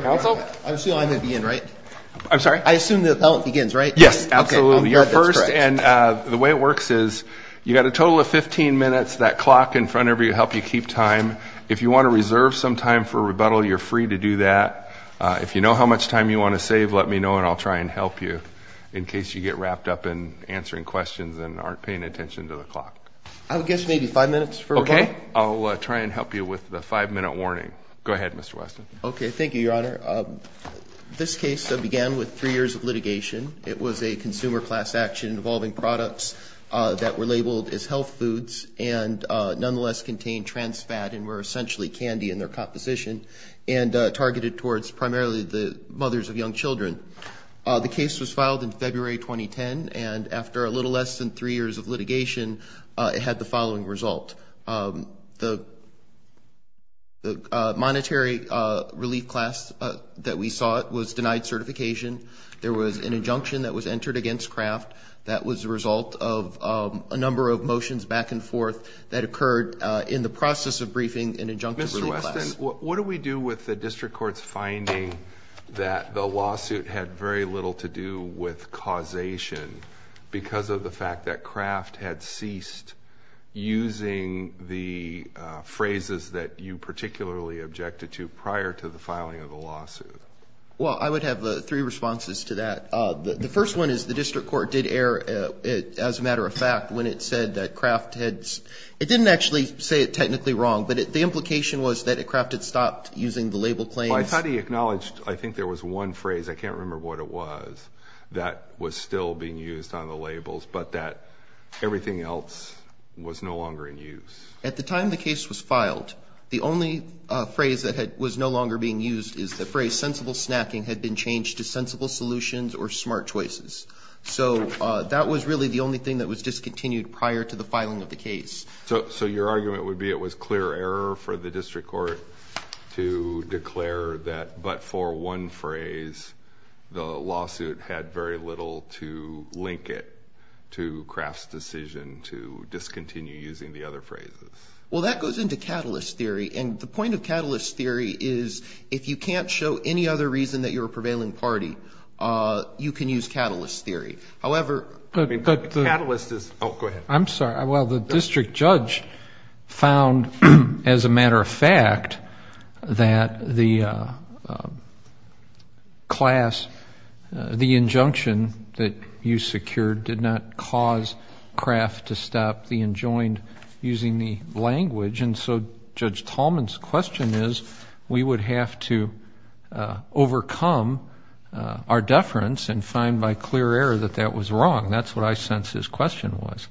Council? I assume I'm going to begin, right? I'm sorry? I assume the appellant begins, right? Yes, absolutely. You're first, and the way it works is you've got a total of 15 minutes. That clock in front of you will help you keep time. If you want to reserve some time for rebuttal, you're free to do that. If you know how much time you want to save, let me know, and I'll try and help you in case you get wrapped up in answering questions and aren't paying attention to the clock. I would guess maybe five minutes for rebuttal? Okay, I'll try and help you with the five-minute warning. Go ahead, Mr. Weston. Okay, thank you, Your Honor. This case began with three years of litigation. It was a consumer class action involving products that were labeled as health foods and nonetheless contained trans fat and were essentially candy in their composition and targeted towards primarily the mothers of young children. The case was filed in February 2010, and after a little less than three years of litigation, it had the following result. The monetary relief class that we sought was denied certification. There was an injunction that was entered against Kraft. That was the result of a number of motions back and forth that occurred in the process of briefing an injunction relief class. Mr. Weston, what do we do with the district court's finding that the lawsuit had very little to do with causation because of the fact that Kraft had ceased using the phrases that you particularly objected to prior to the filing of the lawsuit? Well, I would have three responses to that. The first one is the district court did err, as a matter of fact, when it said that Kraft had – it didn't actually say it technically wrong, but the implication was that Kraft had stopped using the label claims. Well, I thought he acknowledged, I think there was one phrase, I can't remember what it was, that was still being used on the labels, but that everything else was no longer in use. At the time the case was filed, the only phrase that was no longer being used is the phrase sensible snacking had been changed to sensible solutions or smart choices. So that was really the only thing that was discontinued prior to the filing of the case. So your argument would be it was clear error for the district court to declare that but for one phrase, the lawsuit had very little to link it to Kraft's decision to discontinue using the other phrases. Well, that goes into catalyst theory, and the point of catalyst theory is if you can't show any other reason that you're a prevailing party, you can use catalyst theory. However, the catalyst is – oh, go ahead. I'm sorry. Well, the district judge found, as a matter of fact, that the class, the injunction that you secured did not cause Kraft to stop the enjoined using the language, and so Judge Tallman's question is we would have to overcome our deference and find by clear error that that was wrong. That's what I sense his question was.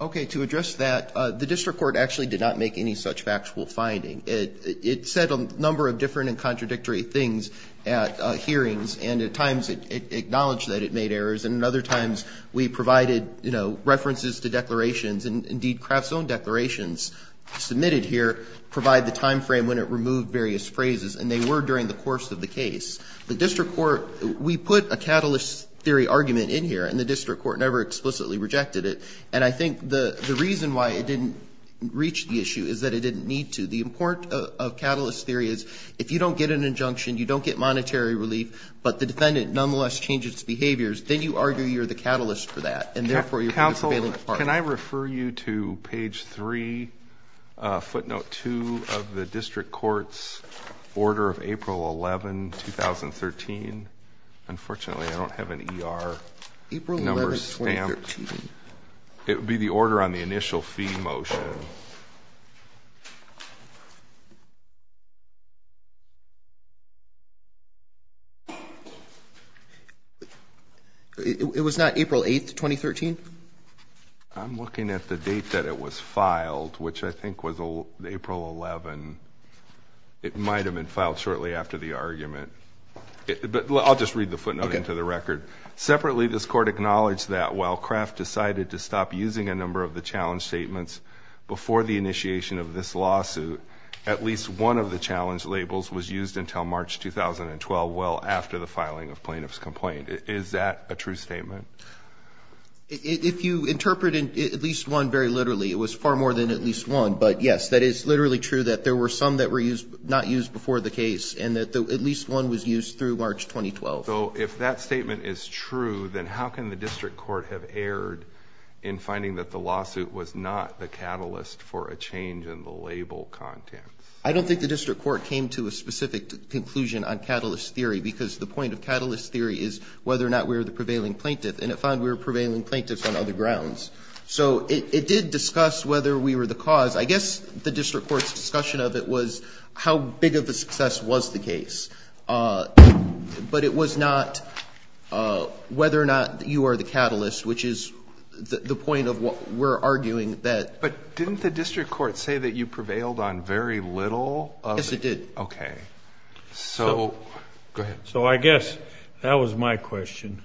Okay. To address that, the district court actually did not make any such factual finding. It said a number of different and contradictory things at hearings, and at times it acknowledged that it made errors, and at other times we provided, you know, references to declarations, and indeed Kraft's own declarations submitted here provide the timeframe when it removed various phrases, and they were during the course of the case. The district court, we put a catalyst theory argument in here, and the district court never explicitly rejected it, and I think the reason why it didn't reach the issue is that it didn't need to. The importance of catalyst theory is if you don't get an injunction, you don't get monetary relief, but the defendant nonetheless changes behaviors, then you argue you're the catalyst for that, and therefore you're a prevailing party. Can I refer you to page 3, footnote 2 of the district court's order of April 11, 2013? Unfortunately, I don't have an ER number stamped. April 11, 2013. It would be the order on the initial fee motion. Thank you. It was not April 8, 2013? I'm looking at the date that it was filed, which I think was April 11. It might have been filed shortly after the argument. I'll just read the footnote into the record. Separately, this court acknowledged that while Kraft decided to stop using a number of the challenge statements before the initiation of this lawsuit, at least one of the challenge labels was used until March 2012, well after the filing of plaintiff's complaint. Is that a true statement? If you interpret at least one very literally, it was far more than at least one, but, yes, that is literally true that there were some that were not used before the case and that at least one was used through March 2012. So if that statement is true, then how can the district court have erred in finding that the lawsuit was not the catalyst for a change in the label content? I don't think the district court came to a specific conclusion on catalyst theory because the point of catalyst theory is whether or not we were the prevailing plaintiff, and it found we were prevailing plaintiffs on other grounds. So it did discuss whether we were the cause. I guess the district court's discussion of it was how big of a success was the case, but it was not whether or not you are the catalyst, which is the point of what we're arguing that. But didn't the district court say that you prevailed on very little? Yes, it did. Okay. So, go ahead. So I guess that was my question.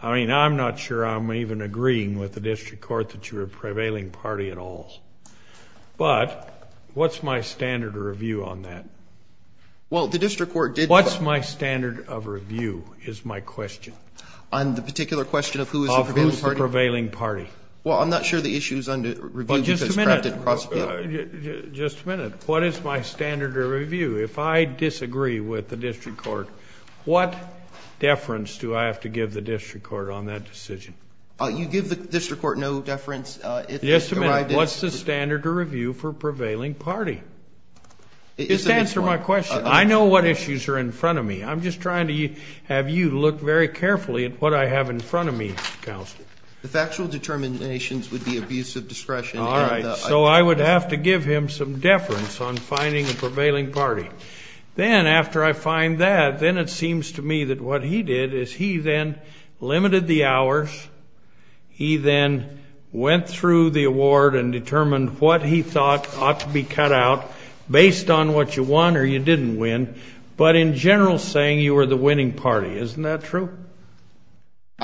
I mean, I'm not sure I'm even agreeing with the district court that you were prevailing party at all. But what's my standard review on that? Well, the district court did – What's my standard of review is my question. On the particular question of who is the prevailing party? Of who is the prevailing party. Well, I'm not sure the issue is under review because – Just a minute. Just a minute. What is my standard of review? If I disagree with the district court, what deference do I have to give the district court on that decision? You give the district court no deference. Yes, a minute. What's the standard of review for prevailing party? Just answer my question. I know what issues are in front of me. I'm just trying to have you look very carefully at what I have in front of me, Counsel. The factual determinations would be abuse of discretion. All right. So I would have to give him some deference on finding a prevailing party. Then, after I find that, then it seems to me that what he did is he then limited the hours. He then went through the award and determined what he thought ought to be cut out based on what you won or you didn't win, but in general saying you were the winning party. Isn't that true?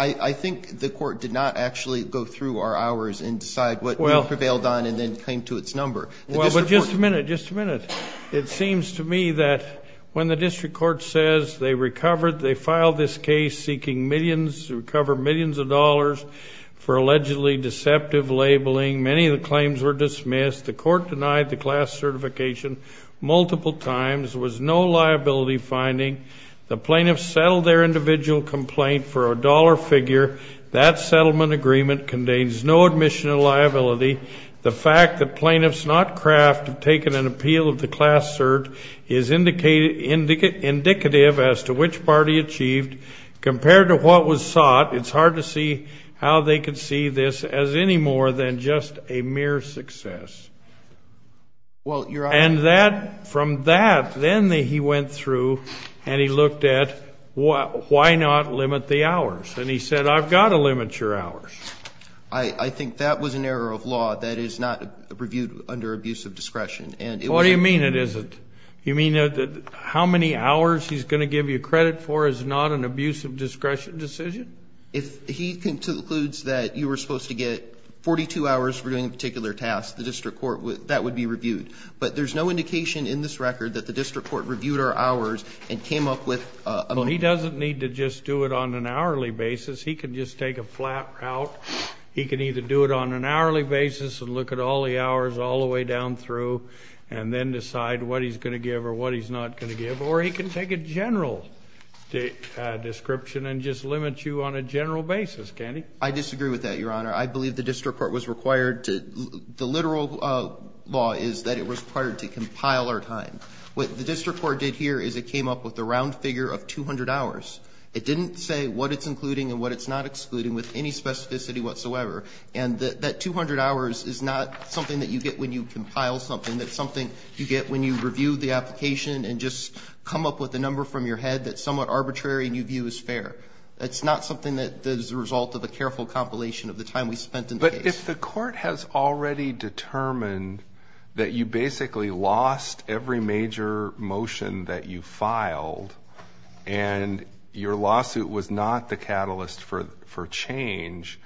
I think the court did not actually go through our hours and decide what we prevailed on and then came to its number. Just a minute. Just a minute. It seems to me that when the district court says they recovered, they filed this case seeking millions to recover millions of dollars for allegedly deceptive labeling. Many of the claims were dismissed. The court denied the class certification multiple times. There was no liability finding. The plaintiffs settled their individual complaint for a dollar figure. That settlement agreement contains no admission of liability. The fact that plaintiffs, not Kraft, have taken an appeal of the class cert is indicative as to which party achieved compared to what was sought. It's hard to see how they could see this as any more than just a mere success. And that, from that, then he went through and he looked at why not limit the hours. And he said, I've got to limit your hours. I think that was an error of law that is not reviewed under abuse of discretion. What do you mean it isn't? You mean how many hours he's going to give you credit for is not an abuse of discretion decision? If he concludes that you were supposed to get 42 hours for doing a particular task, the district court, that would be reviewed. But there's no indication in this record that the district court reviewed our hours and came up with a limit. Well, he doesn't need to just do it on an hourly basis. He can just take a flat route. He can either do it on an hourly basis and look at all the hours all the way down through and then decide what he's going to give or what he's not going to give. Or he can take a general description and just limit you on a general basis, can't he? I disagree with that, Your Honor. I believe the district court was required to, the literal law is that it was required to compile our time. What the district court did here is it came up with a round figure of 200 hours. It didn't say what it's including and what it's not excluding with any specificity whatsoever. And that 200 hours is not something that you get when you compile something. That's something you get when you review the application and just come up with a number from your head that's somewhat arbitrary and you view as fair. That's not something that is the result of a careful compilation of the time we spent in the case. But if the court has already determined that you basically lost every major motion that you filed and your lawsuit was not the catalyst for change,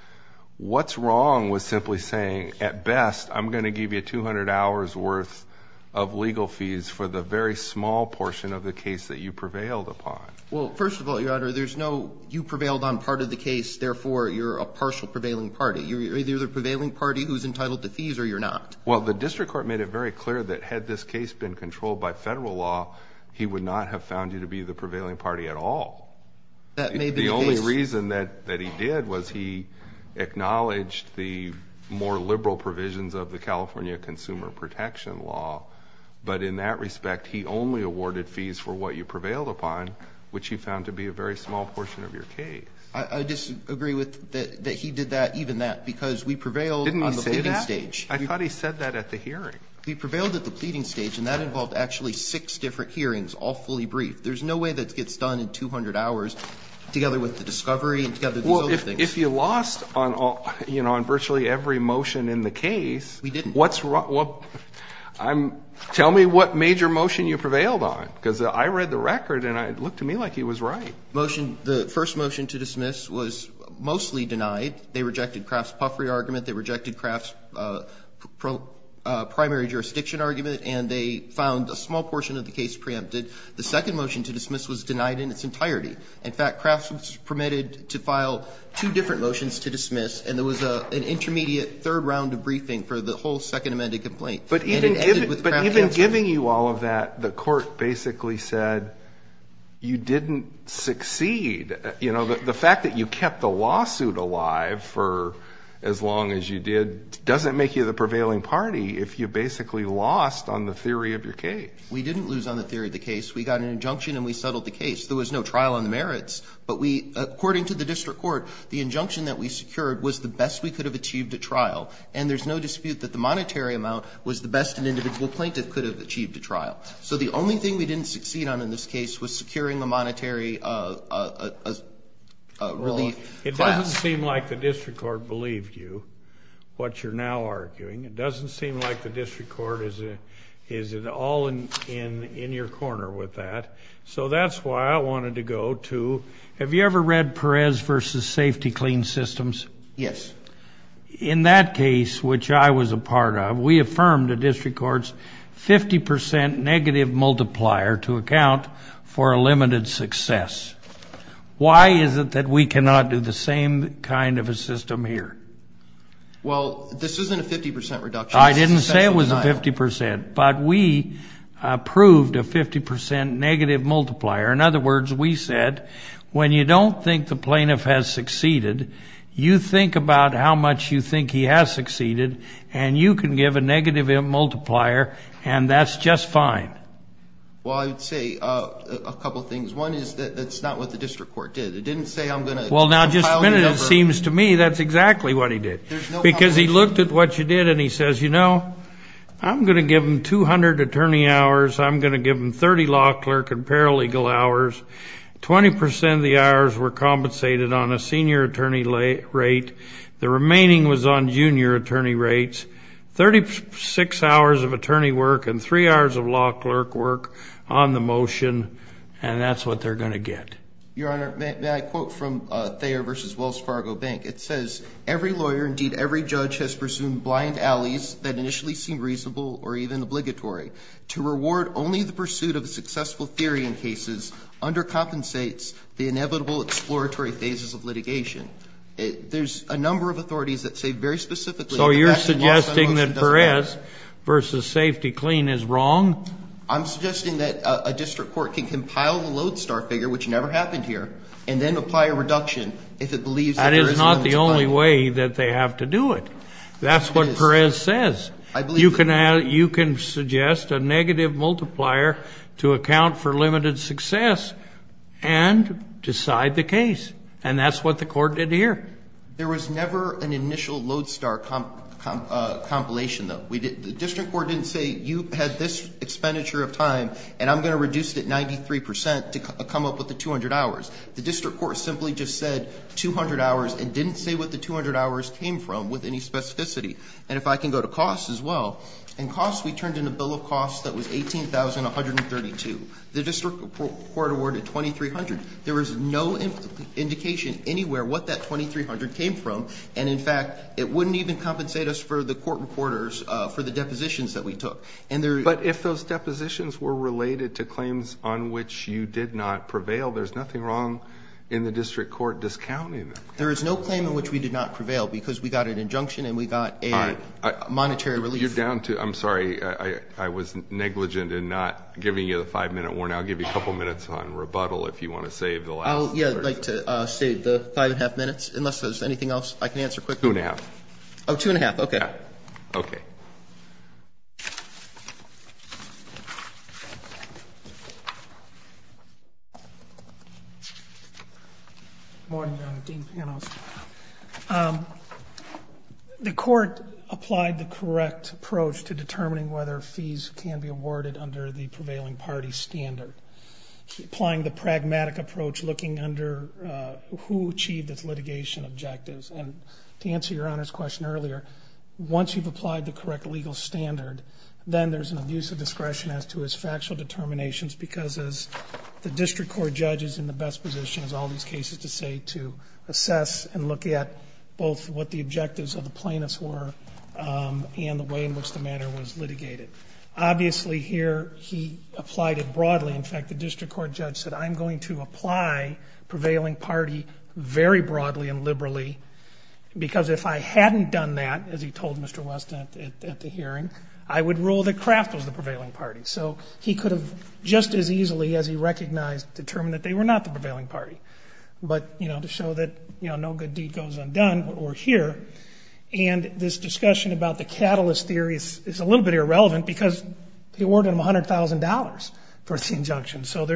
what's wrong with simply saying at best I'm going to give you 200 hours worth of legal fees for the very small portion of the case that you prevailed upon? Well, first of all, Your Honor, there's no you prevailed on part of the case, therefore you're a partial prevailing party. You're either the prevailing party who's entitled to fees or you're not. Well, the district court made it very clear that had this case been controlled by federal law, he would not have found you to be the prevailing party at all. The only reason that he did was he acknowledged the more liberal provisions of the California Consumer Protection Law. But in that respect, he only awarded fees for what you prevailed upon, which he found to be a very small portion of your case. I disagree with that he did that, even that, because we prevailed on the pleading stage. Didn't he say that? I thought he said that at the hearing. We prevailed at the pleading stage, and that involved actually six different hearings, all fully briefed. There's no way that gets done in 200 hours together with the discovery and together with these other things. Well, if you lost on virtually every motion in the case, what's wrong? We didn't. Tell me what major motion you prevailed on, because I read the record and it looked to me like he was right. The first motion to dismiss was mostly denied. They rejected Kraft's puffery argument, they rejected Kraft's primary jurisdiction argument, and they found a small portion of the case preempted. The second motion to dismiss was denied in its entirety. In fact, Kraft was permitted to file two different motions to dismiss, and there was an intermediate third round of briefing for the whole second amended complaint. But even giving you all of that, the court basically said you didn't succeed. You know, the fact that you kept the lawsuit alive for as long as you did doesn't make you the prevailing party if you basically lost on the theory of your case. We didn't lose on the theory of the case. We got an injunction and we settled the case. There was no trial on the merits, but according to the district court, the injunction that we secured was the best we could have achieved at trial, and there's no dispute that the monetary amount was the best an individual plaintiff could have achieved at trial. So the only thing we didn't succeed on in this case was securing the monetary relief. It doesn't seem like the district court believed you, what you're now arguing. It doesn't seem like the district court is all in your corner with that. So that's why I wanted to go to, have you ever read Perez v. Safety Clean Systems? Yes. In that case, which I was a part of, we affirmed the district court's 50% negative multiplier to account for a limited success. Why is it that we cannot do the same kind of a system here? Well, this isn't a 50% reduction. I didn't say it was a 50%, but we approved a 50% negative multiplier. In other words, we said when you don't think the plaintiff has succeeded, you think about how much you think he has succeeded, and you can give a negative multiplier, and that's just fine. Well, I would say a couple of things. One is that that's not what the district court did. It didn't say I'm going to compile the number. Well, now, just a minute, it seems to me that's exactly what he did. There's no compilation. Because he looked at what you did, and he says, you know, I'm going to give him 200 attorney hours, I'm going to give him 30 law clerk and paralegal hours. Twenty percent of the hours were compensated on a senior attorney rate. The remaining was on junior attorney rates. Thirty-six hours of attorney work and three hours of law clerk work on the motion, and that's what they're going to get. Your Honor, may I quote from Thayer v. Wells Fargo Bank? It says, every lawyer, indeed every judge, has presumed blind alleys that initially seem reasonable or even obligatory. To reward only the pursuit of a successful theory in cases undercompensates the inevitable exploratory phases of litigation. There's a number of authorities that say very specifically that the last motion doesn't matter. So you're suggesting that Perez v. Safety Clean is wrong? I'm suggesting that a district court can compile the Lodestar figure, which never happened here, and then apply a reduction if it believes that there is a limit. That is not the only way that they have to do it. That's what Perez says. You can suggest a negative multiplier to account for limited success and decide the case. And that's what the court did here. There was never an initial Lodestar compilation, though. The district court didn't say you had this expenditure of time, and I'm going to reduce it 93 percent to come up with the 200 hours. The district court simply just said 200 hours and didn't say what the 200 hours came from with any specificity. And if I can go to costs as well, in costs we turned in a bill of costs that was $18,132. The district court awarded $2,300. There was no indication anywhere what that $2,300 came from. And, in fact, it wouldn't even compensate us for the court reporters for the depositions that we took. But if those depositions were related to claims on which you did not prevail, there's nothing wrong in the district court discounting them. There is no claim in which we did not prevail because we got an injunction and we got a monetary relief. You're down to ‑‑I'm sorry. I was negligent in not giving you the five-minute warning. I'll give you a couple minutes on rebuttal if you want to save the last 30 seconds. I would like to save the five and a half minutes unless there's anything else I can answer quickly. Two and a half. Oh, two and a half. Okay. Okay. Okay. Good morning, Your Honor. Dean Panos. The court applied the correct approach to determining whether fees can be awarded under the prevailing party standard, applying the pragmatic approach looking under who achieved its litigation objectives. And to answer Your Honor's question earlier, once you've applied the correct legal standard, then there's an abuse of discretion as to its factual determinations because the district court judge is in the best position, as all these cases say, to assess and look at both what the objectives of the plaintiffs were and the way in which the matter was litigated. Obviously, here he applied it broadly. In fact, the district court judge said, I'm going to apply prevailing party very broadly and liberally because if I hadn't done that, as he told Mr. West at the hearing, I would rule that Kraft was the prevailing party. So he could have just as easily, as he recognized, determined that they were not the prevailing party. But, you know, to show that, you know, no good deed goes undone, we're here. And this discussion about the catalyst theory is a little bit irrelevant because he awarded them $100,000 for the injunction. So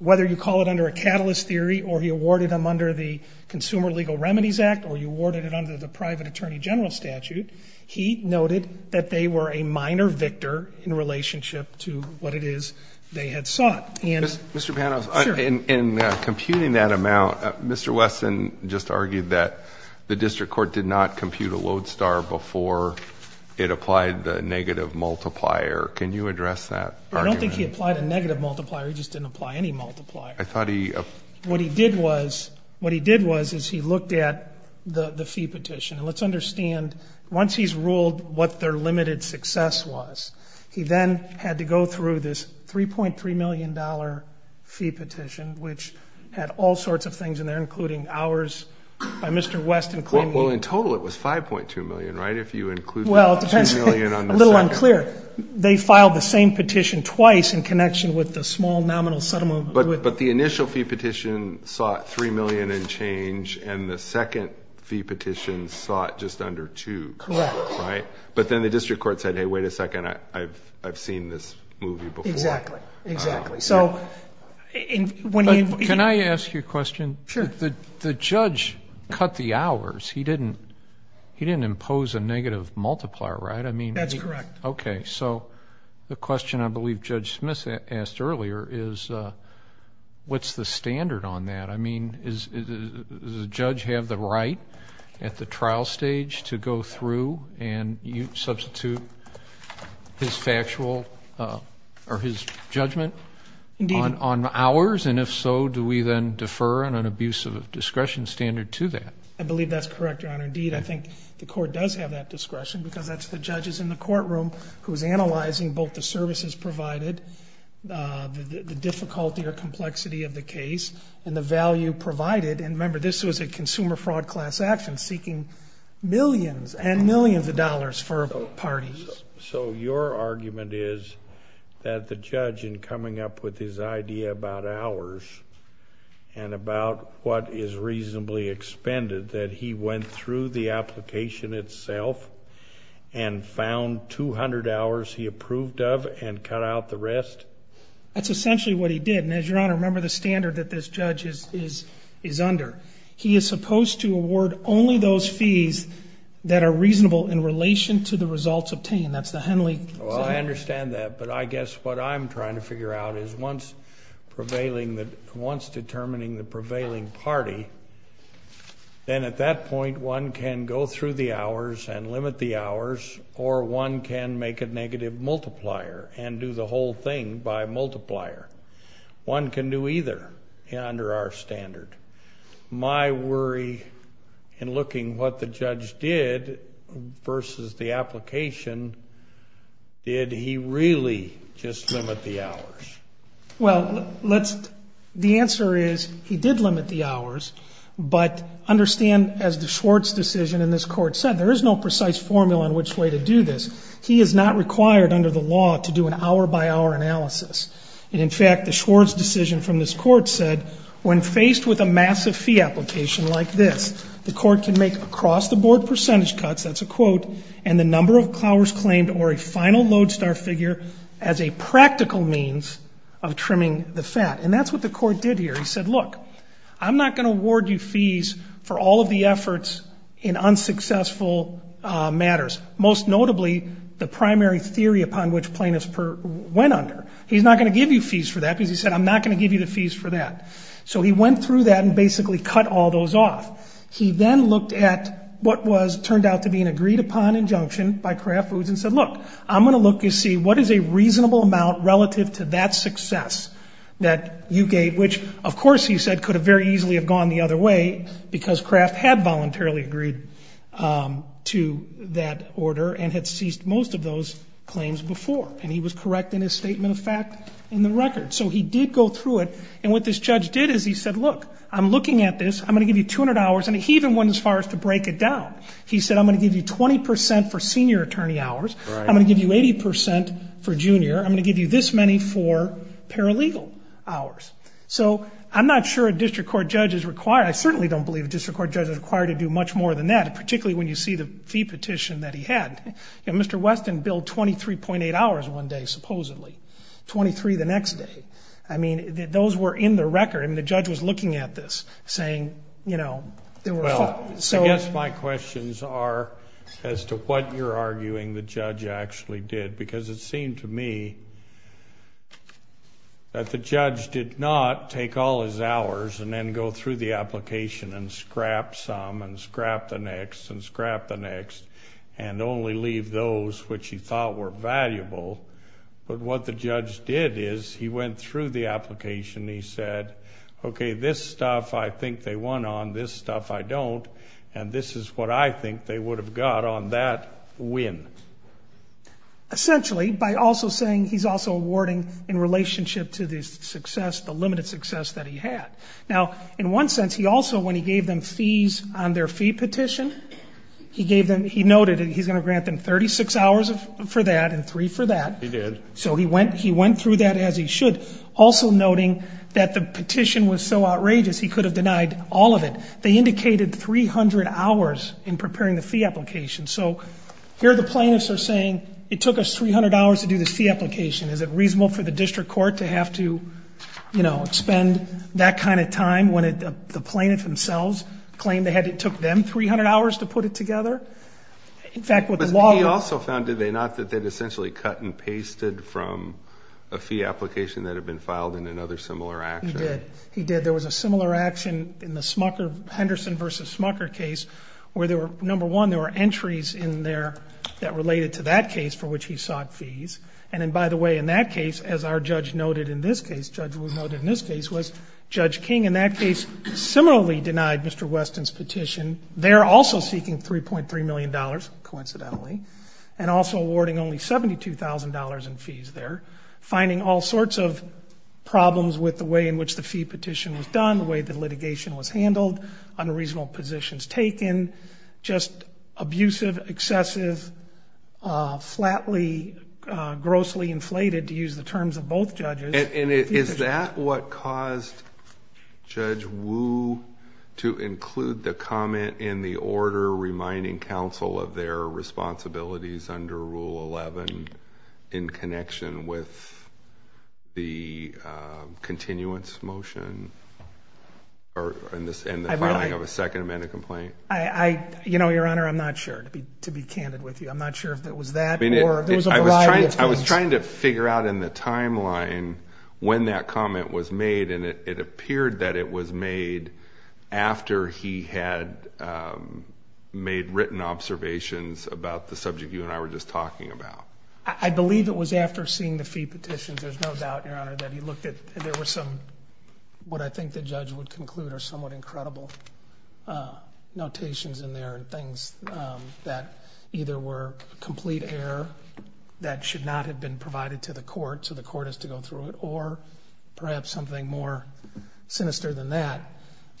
whether you call it under a catalyst theory or he awarded them under the Consumer Legal Remedies Act or you awarded it under the private attorney general statute, he noted that they were a minor victor in relationship to what it is they had sought. Mr. Panos, in computing that amount, Mr. Weston just argued that the district court did not compute a load star before it applied the negative multiplier. Can you address that argument? I don't think he applied a negative multiplier. He just didn't apply any multiplier. What he did was he looked at the fee petition. And let's understand, once he's ruled what their limited success was, he then had to go through this $3.3 million fee petition, which had all sorts of things in there, including hours by Mr. Weston claiming Well, in total it was $5.2 million, right? If you include the $3 million on the second. Well, it depends. A little unclear. They filed the same petition twice in connection with the small nominal settlement. But the initial fee petition sought $3 million and change, and the second fee petition sought just under $2. Correct. Right. But then the district court said, Hey, wait a second. I've seen this movie before. Exactly. Exactly. Can I ask you a question? Sure. The judge cut the hours. He didn't impose a negative multiplier, right? That's correct. Okay. So the question I believe Judge Smith asked earlier is what's the standard on that? I mean, does the judge have the right at the trial stage to go through and substitute his factual or his judgment on hours? And if so, do we then defer on an abuse of discretion standard to that? I believe that's correct, Your Honor. Indeed, I think the court does have that discretion because that's the judges in the courtroom who's analyzing both the services provided, the difficulty or complexity of the case, and the value provided. And remember, this was a consumer fraud class action seeking millions and millions of dollars for parties. So your argument is that the judge in coming up with his idea about hours and about what is reasonably expended, that he went through the application itself and found 200 hours he approved of and cut out the rest? That's essentially what he did. And as your Honor, remember the standard that this judge is under. He is supposed to award only those fees that are reasonable in relation to the results obtained. That's the Henley standard. Well, I understand that, but I guess what I'm trying to figure out is once determining the prevailing party, then at that point one can go through the hours and limit the hours, or one can make a negative multiplier and do the whole thing by multiplier. One can do either under our standard. My worry in looking what the judge did versus the application, did he really just limit the hours? Well, the answer is he did limit the hours, but understand, as the Schwartz decision in this court said, there is no precise formula in which way to do this. He is not required under the law to do an hour-by-hour analysis. And, in fact, the Schwartz decision from this court said when faced with a massive fee application like this, the court can make across-the-board percentage cuts, that's a quote, and the number of clowers claimed or a final lodestar figure as a practical means of trimming the fat. And that's what the court did here. He said, look, I'm not going to award you fees for all of the efforts in unsuccessful matters, most notably the primary theory upon which plaintiffs went under. He's not going to give you fees for that because he said I'm not going to give you the fees for that. So he went through that and basically cut all those off. He then looked at what was turned out to be an agreed-upon injunction by Kraft Foods and said, look, I'm going to look to see what is a reasonable amount relative to that success that you gave, which, of course, he said could have very easily have gone the other way because Kraft had voluntarily agreed to that order and had ceased most of those claims before. And he was correct in his statement of fact in the record. So he did go through it. And what this judge did is he said, look, I'm looking at this. I'm going to give you 200 hours. And he even went as far as to break it down. He said I'm going to give you 20 percent for senior attorney hours. I'm going to give you 80 percent for junior. I'm going to give you this many for paralegal hours. So I'm not sure a district court judge is required. I certainly don't believe a district court judge is required to do much more than that, particularly when you see the fee petition that he had. Mr. Weston billed 23.8 hours one day supposedly, 23 the next day. I mean, those were in the record. I mean, the judge was looking at this saying, you know, there were five. Well, I guess my questions are as to what you're arguing the judge actually did because it seemed to me that the judge did not take all his hours and then go through the application and scrap some and scrap the next and scrap the next and only leave those which he thought were valuable. But what the judge did is he went through the application. He said, okay, this stuff I think they won on, this stuff I don't, and this is what I think they would have got on that win. Essentially, by also saying he's also awarding in relationship to the success, the limited success that he had. Now, in one sense, he also, when he gave them fees on their fee petition, he gave them, he noted he's going to grant them 36 hours for that and three for that. He did. So he went through that as he should, also noting that the petition was so outrageous he could have denied all of it. They indicated 300 hours in preparing the fee application. So here the plaintiffs are saying it took us 300 hours to do this fee application. They don't spend that kind of time when the plaintiffs themselves claim they had, it took them 300 hours to put it together. In fact, what the law would. But he also found, did they not, that they'd essentially cut and pasted from a fee application that had been filed in another similar action? He did. He did. There was a similar action in the Smucker, Henderson v. Smucker case where there were, number one, there were entries in there that related to that case for which he sought fees. And then, by the way, in that case, as our judge noted in this case, Judge King in that case similarly denied Mr. Weston's petition. They're also seeking $3.3 million, coincidentally, and also awarding only $72,000 in fees there, finding all sorts of problems with the way in which the fee petition was done, the way the litigation was handled, unreasonable positions taken, just abusive, excessive, flatly, grossly inflated, to use the terms of both judges. And is that what caused Judge Wu to include the comment in the order reminding counsel of their responsibilities under Rule 11 in connection with the continuance motion and the filing of a Second Amendment complaint? I, you know, Your Honor, I'm not sure, to be candid with you. I'm not sure if it was that or if there was a variety of things. I was trying to figure out in the timeline when that comment was made, and it appeared that it was made after he had made written observations about the subject you and I were just talking about. I believe it was after seeing the fee petitions. There's no doubt, Your Honor, that he looked at it. There were some what I think the judge would conclude are somewhat incredible notations in there and things that either were complete error that should not have been provided to the court, so the court has to go through it, or perhaps something more sinister than that.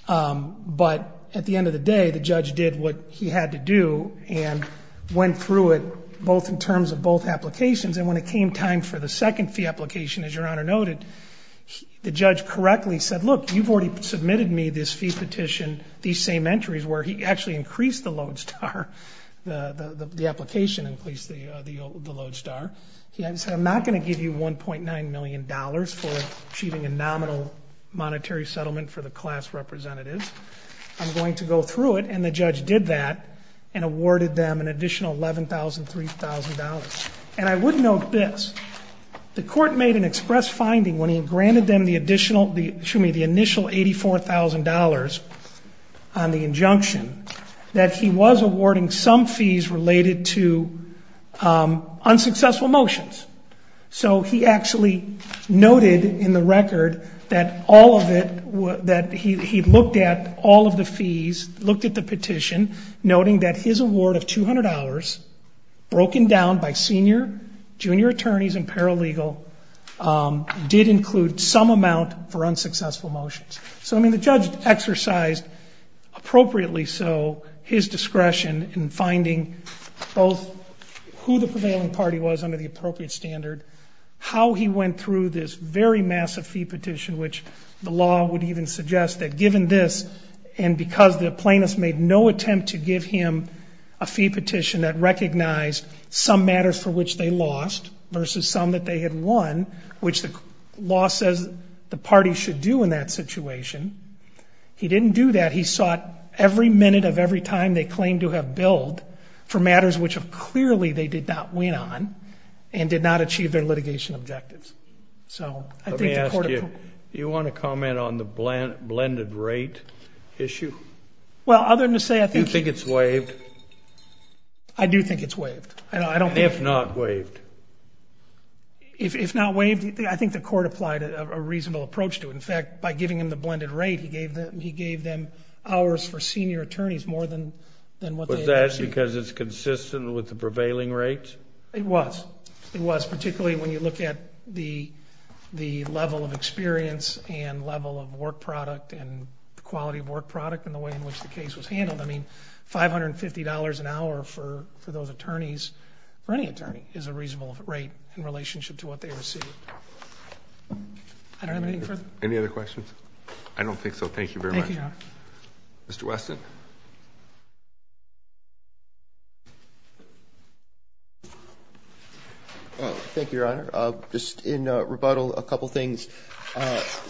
But at the end of the day, the judge did what he had to do and went through it both in terms of both applications. And when it came time for the second fee application, as Your Honor noted, the judge correctly said, look, you've already submitted me this fee petition, these same entries where he actually increased the Lodestar, the application increased the Lodestar. He said, I'm not going to give you $1.9 million for achieving a nominal monetary settlement for the class representatives. I'm going to go through it, and the judge did that and awarded them an additional $11,000, $3,000. And I would note this. The court made an express finding when he granted them the initial $84,000 on the injunction that he was awarding some fees related to unsuccessful motions. So he actually noted in the record that all of it, that he looked at all of the fees, looked at the petition, noting that his award of $200 broken down by senior, junior attorneys, and paralegal did include some amount for unsuccessful motions. So, I mean, the judge exercised appropriately so his discretion in finding both who the prevailing party was under the appropriate standard, how he went through this very massive fee petition, which the law would even suggest that given this, and because the plaintiff made no attempt to give him a fee petition that recognized some matters for which they lost versus some that they had won, which the law says the party should do in that situation. He didn't do that. He sought every minute of every time they claimed to have billed for matters which clearly they did not win on and did not achieve their litigation objectives. Let me ask you, do you want to comment on the blended rate issue? Well, other than to say I think... Do you think it's waived? I do think it's waived. If not waived? If not waived, I think the court applied a reasonable approach to it. In fact, by giving him the blended rate, he gave them hours for senior attorneys more than what they actually... Was that because it's consistent with the prevailing rates? It was. It was, particularly when you look at the level of experience and level of work product and the quality of work product and the way in which the case was handled. I mean, $550 an hour for those attorneys, for any attorney, is a reasonable rate in relationship to what they received. I don't have anything further. Any other questions? I don't think so. Thank you very much. Thank you, Your Honor. Mr. Weston? Thank you, Your Honor. Just in rebuttal, a couple things.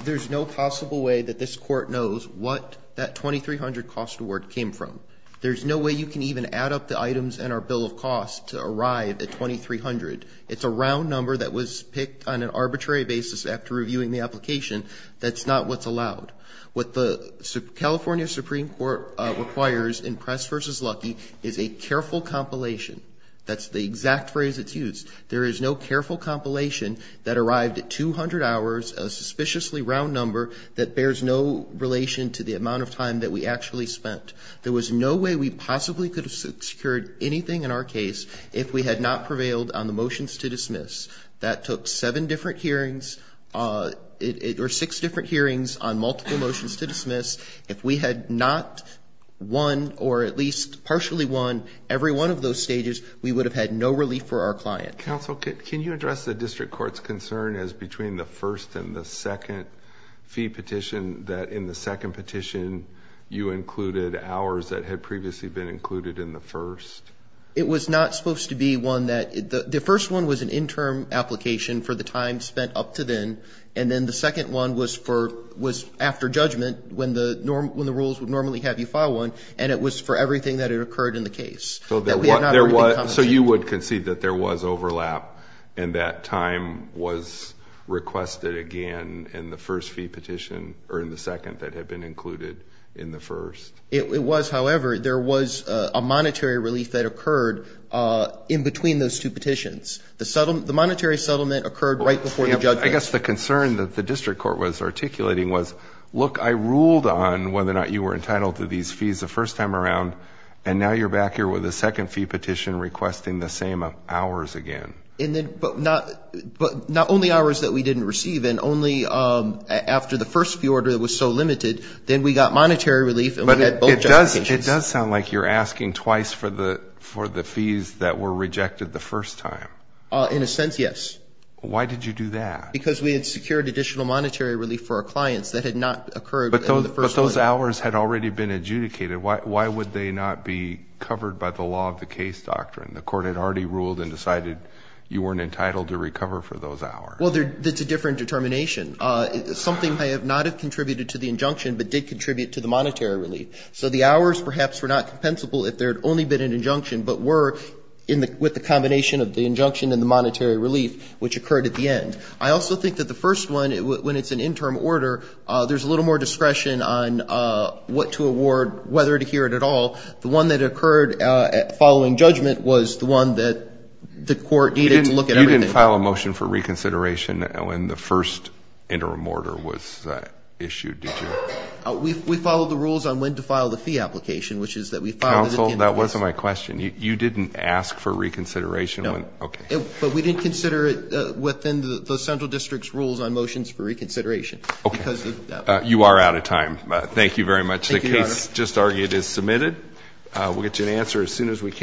There's no possible way that this court knows what that $2,300 cost award came from. There's no way you can even add up the items in our bill of costs to arrive at $2,300. It's a round number that was picked on an arbitrary basis after reviewing the application. That's not what's allowed. What the California Supreme Court requires in Press v. Lucky is a careful compilation. That's the exact phrase that's used. There is no careful compilation that arrived at 200 hours, a suspiciously round number that bears no relation to the amount of time that we actually spent. There was no way we possibly could have secured anything in our case if we had not prevailed on the motions to dismiss. That took seven different hearings or six different hearings on multiple motions to dismiss. If we had not won or at least partially won every one of those stages, we would have had no relief for our client. Counsel, can you address the district court's concern as between the first and the second fee petition that in the second petition you included hours that had previously been included in the first? It was not supposed to be one that the first one was an interim application for the time spent up to then, and then the second one was after judgment when the rules would normally have you file one, and it was for everything that had occurred in the case. So you would concede that there was overlap and that time was requested again in the first fee petition or in the second that had been included in the first? It was, however. There was a monetary relief that occurred in between those two petitions. The monetary settlement occurred right before the judgment. I guess the concern that the district court was articulating was, look, I ruled on whether or not you were entitled to these fees the first time around, and now you're back here with a second fee petition requesting the same hours again. But not only hours that we didn't receive and only after the first fee order was so limited, then we got monetary relief and we had both judgment conditions. It does sound like you're asking twice for the fees that were rejected the first time. In a sense, yes. Why did you do that? Because we had secured additional monetary relief for our clients that had not occurred in the first order. But those hours had already been adjudicated. Why would they not be covered by the law of the case doctrine? The court had already ruled and decided you weren't entitled to recover for those hours. Well, it's a different determination. Something may not have contributed to the injunction but did contribute to the monetary relief. So the hours perhaps were not compensable if there had only been an injunction but were with the combination of the injunction and the monetary relief, which occurred at the end. I also think that the first one, when it's an interim order, there's a little more discretion on what to award, whether to hear it at all. The one that occurred following judgment was the one that the court needed to look at everything. You didn't file a motion for reconsideration when the first interim order was issued, did you? We followed the rules on when to file the fee application, which is that we filed it at the end of the first. Counsel, that wasn't my question. You didn't ask for reconsideration? No. Okay. But we didn't consider it within the central district's rules on motions for reconsideration. Okay. You are out of time. Thank you very much. Thank you, Your Honor. The case just argued is submitted. We'll get you an answer as soon as we can.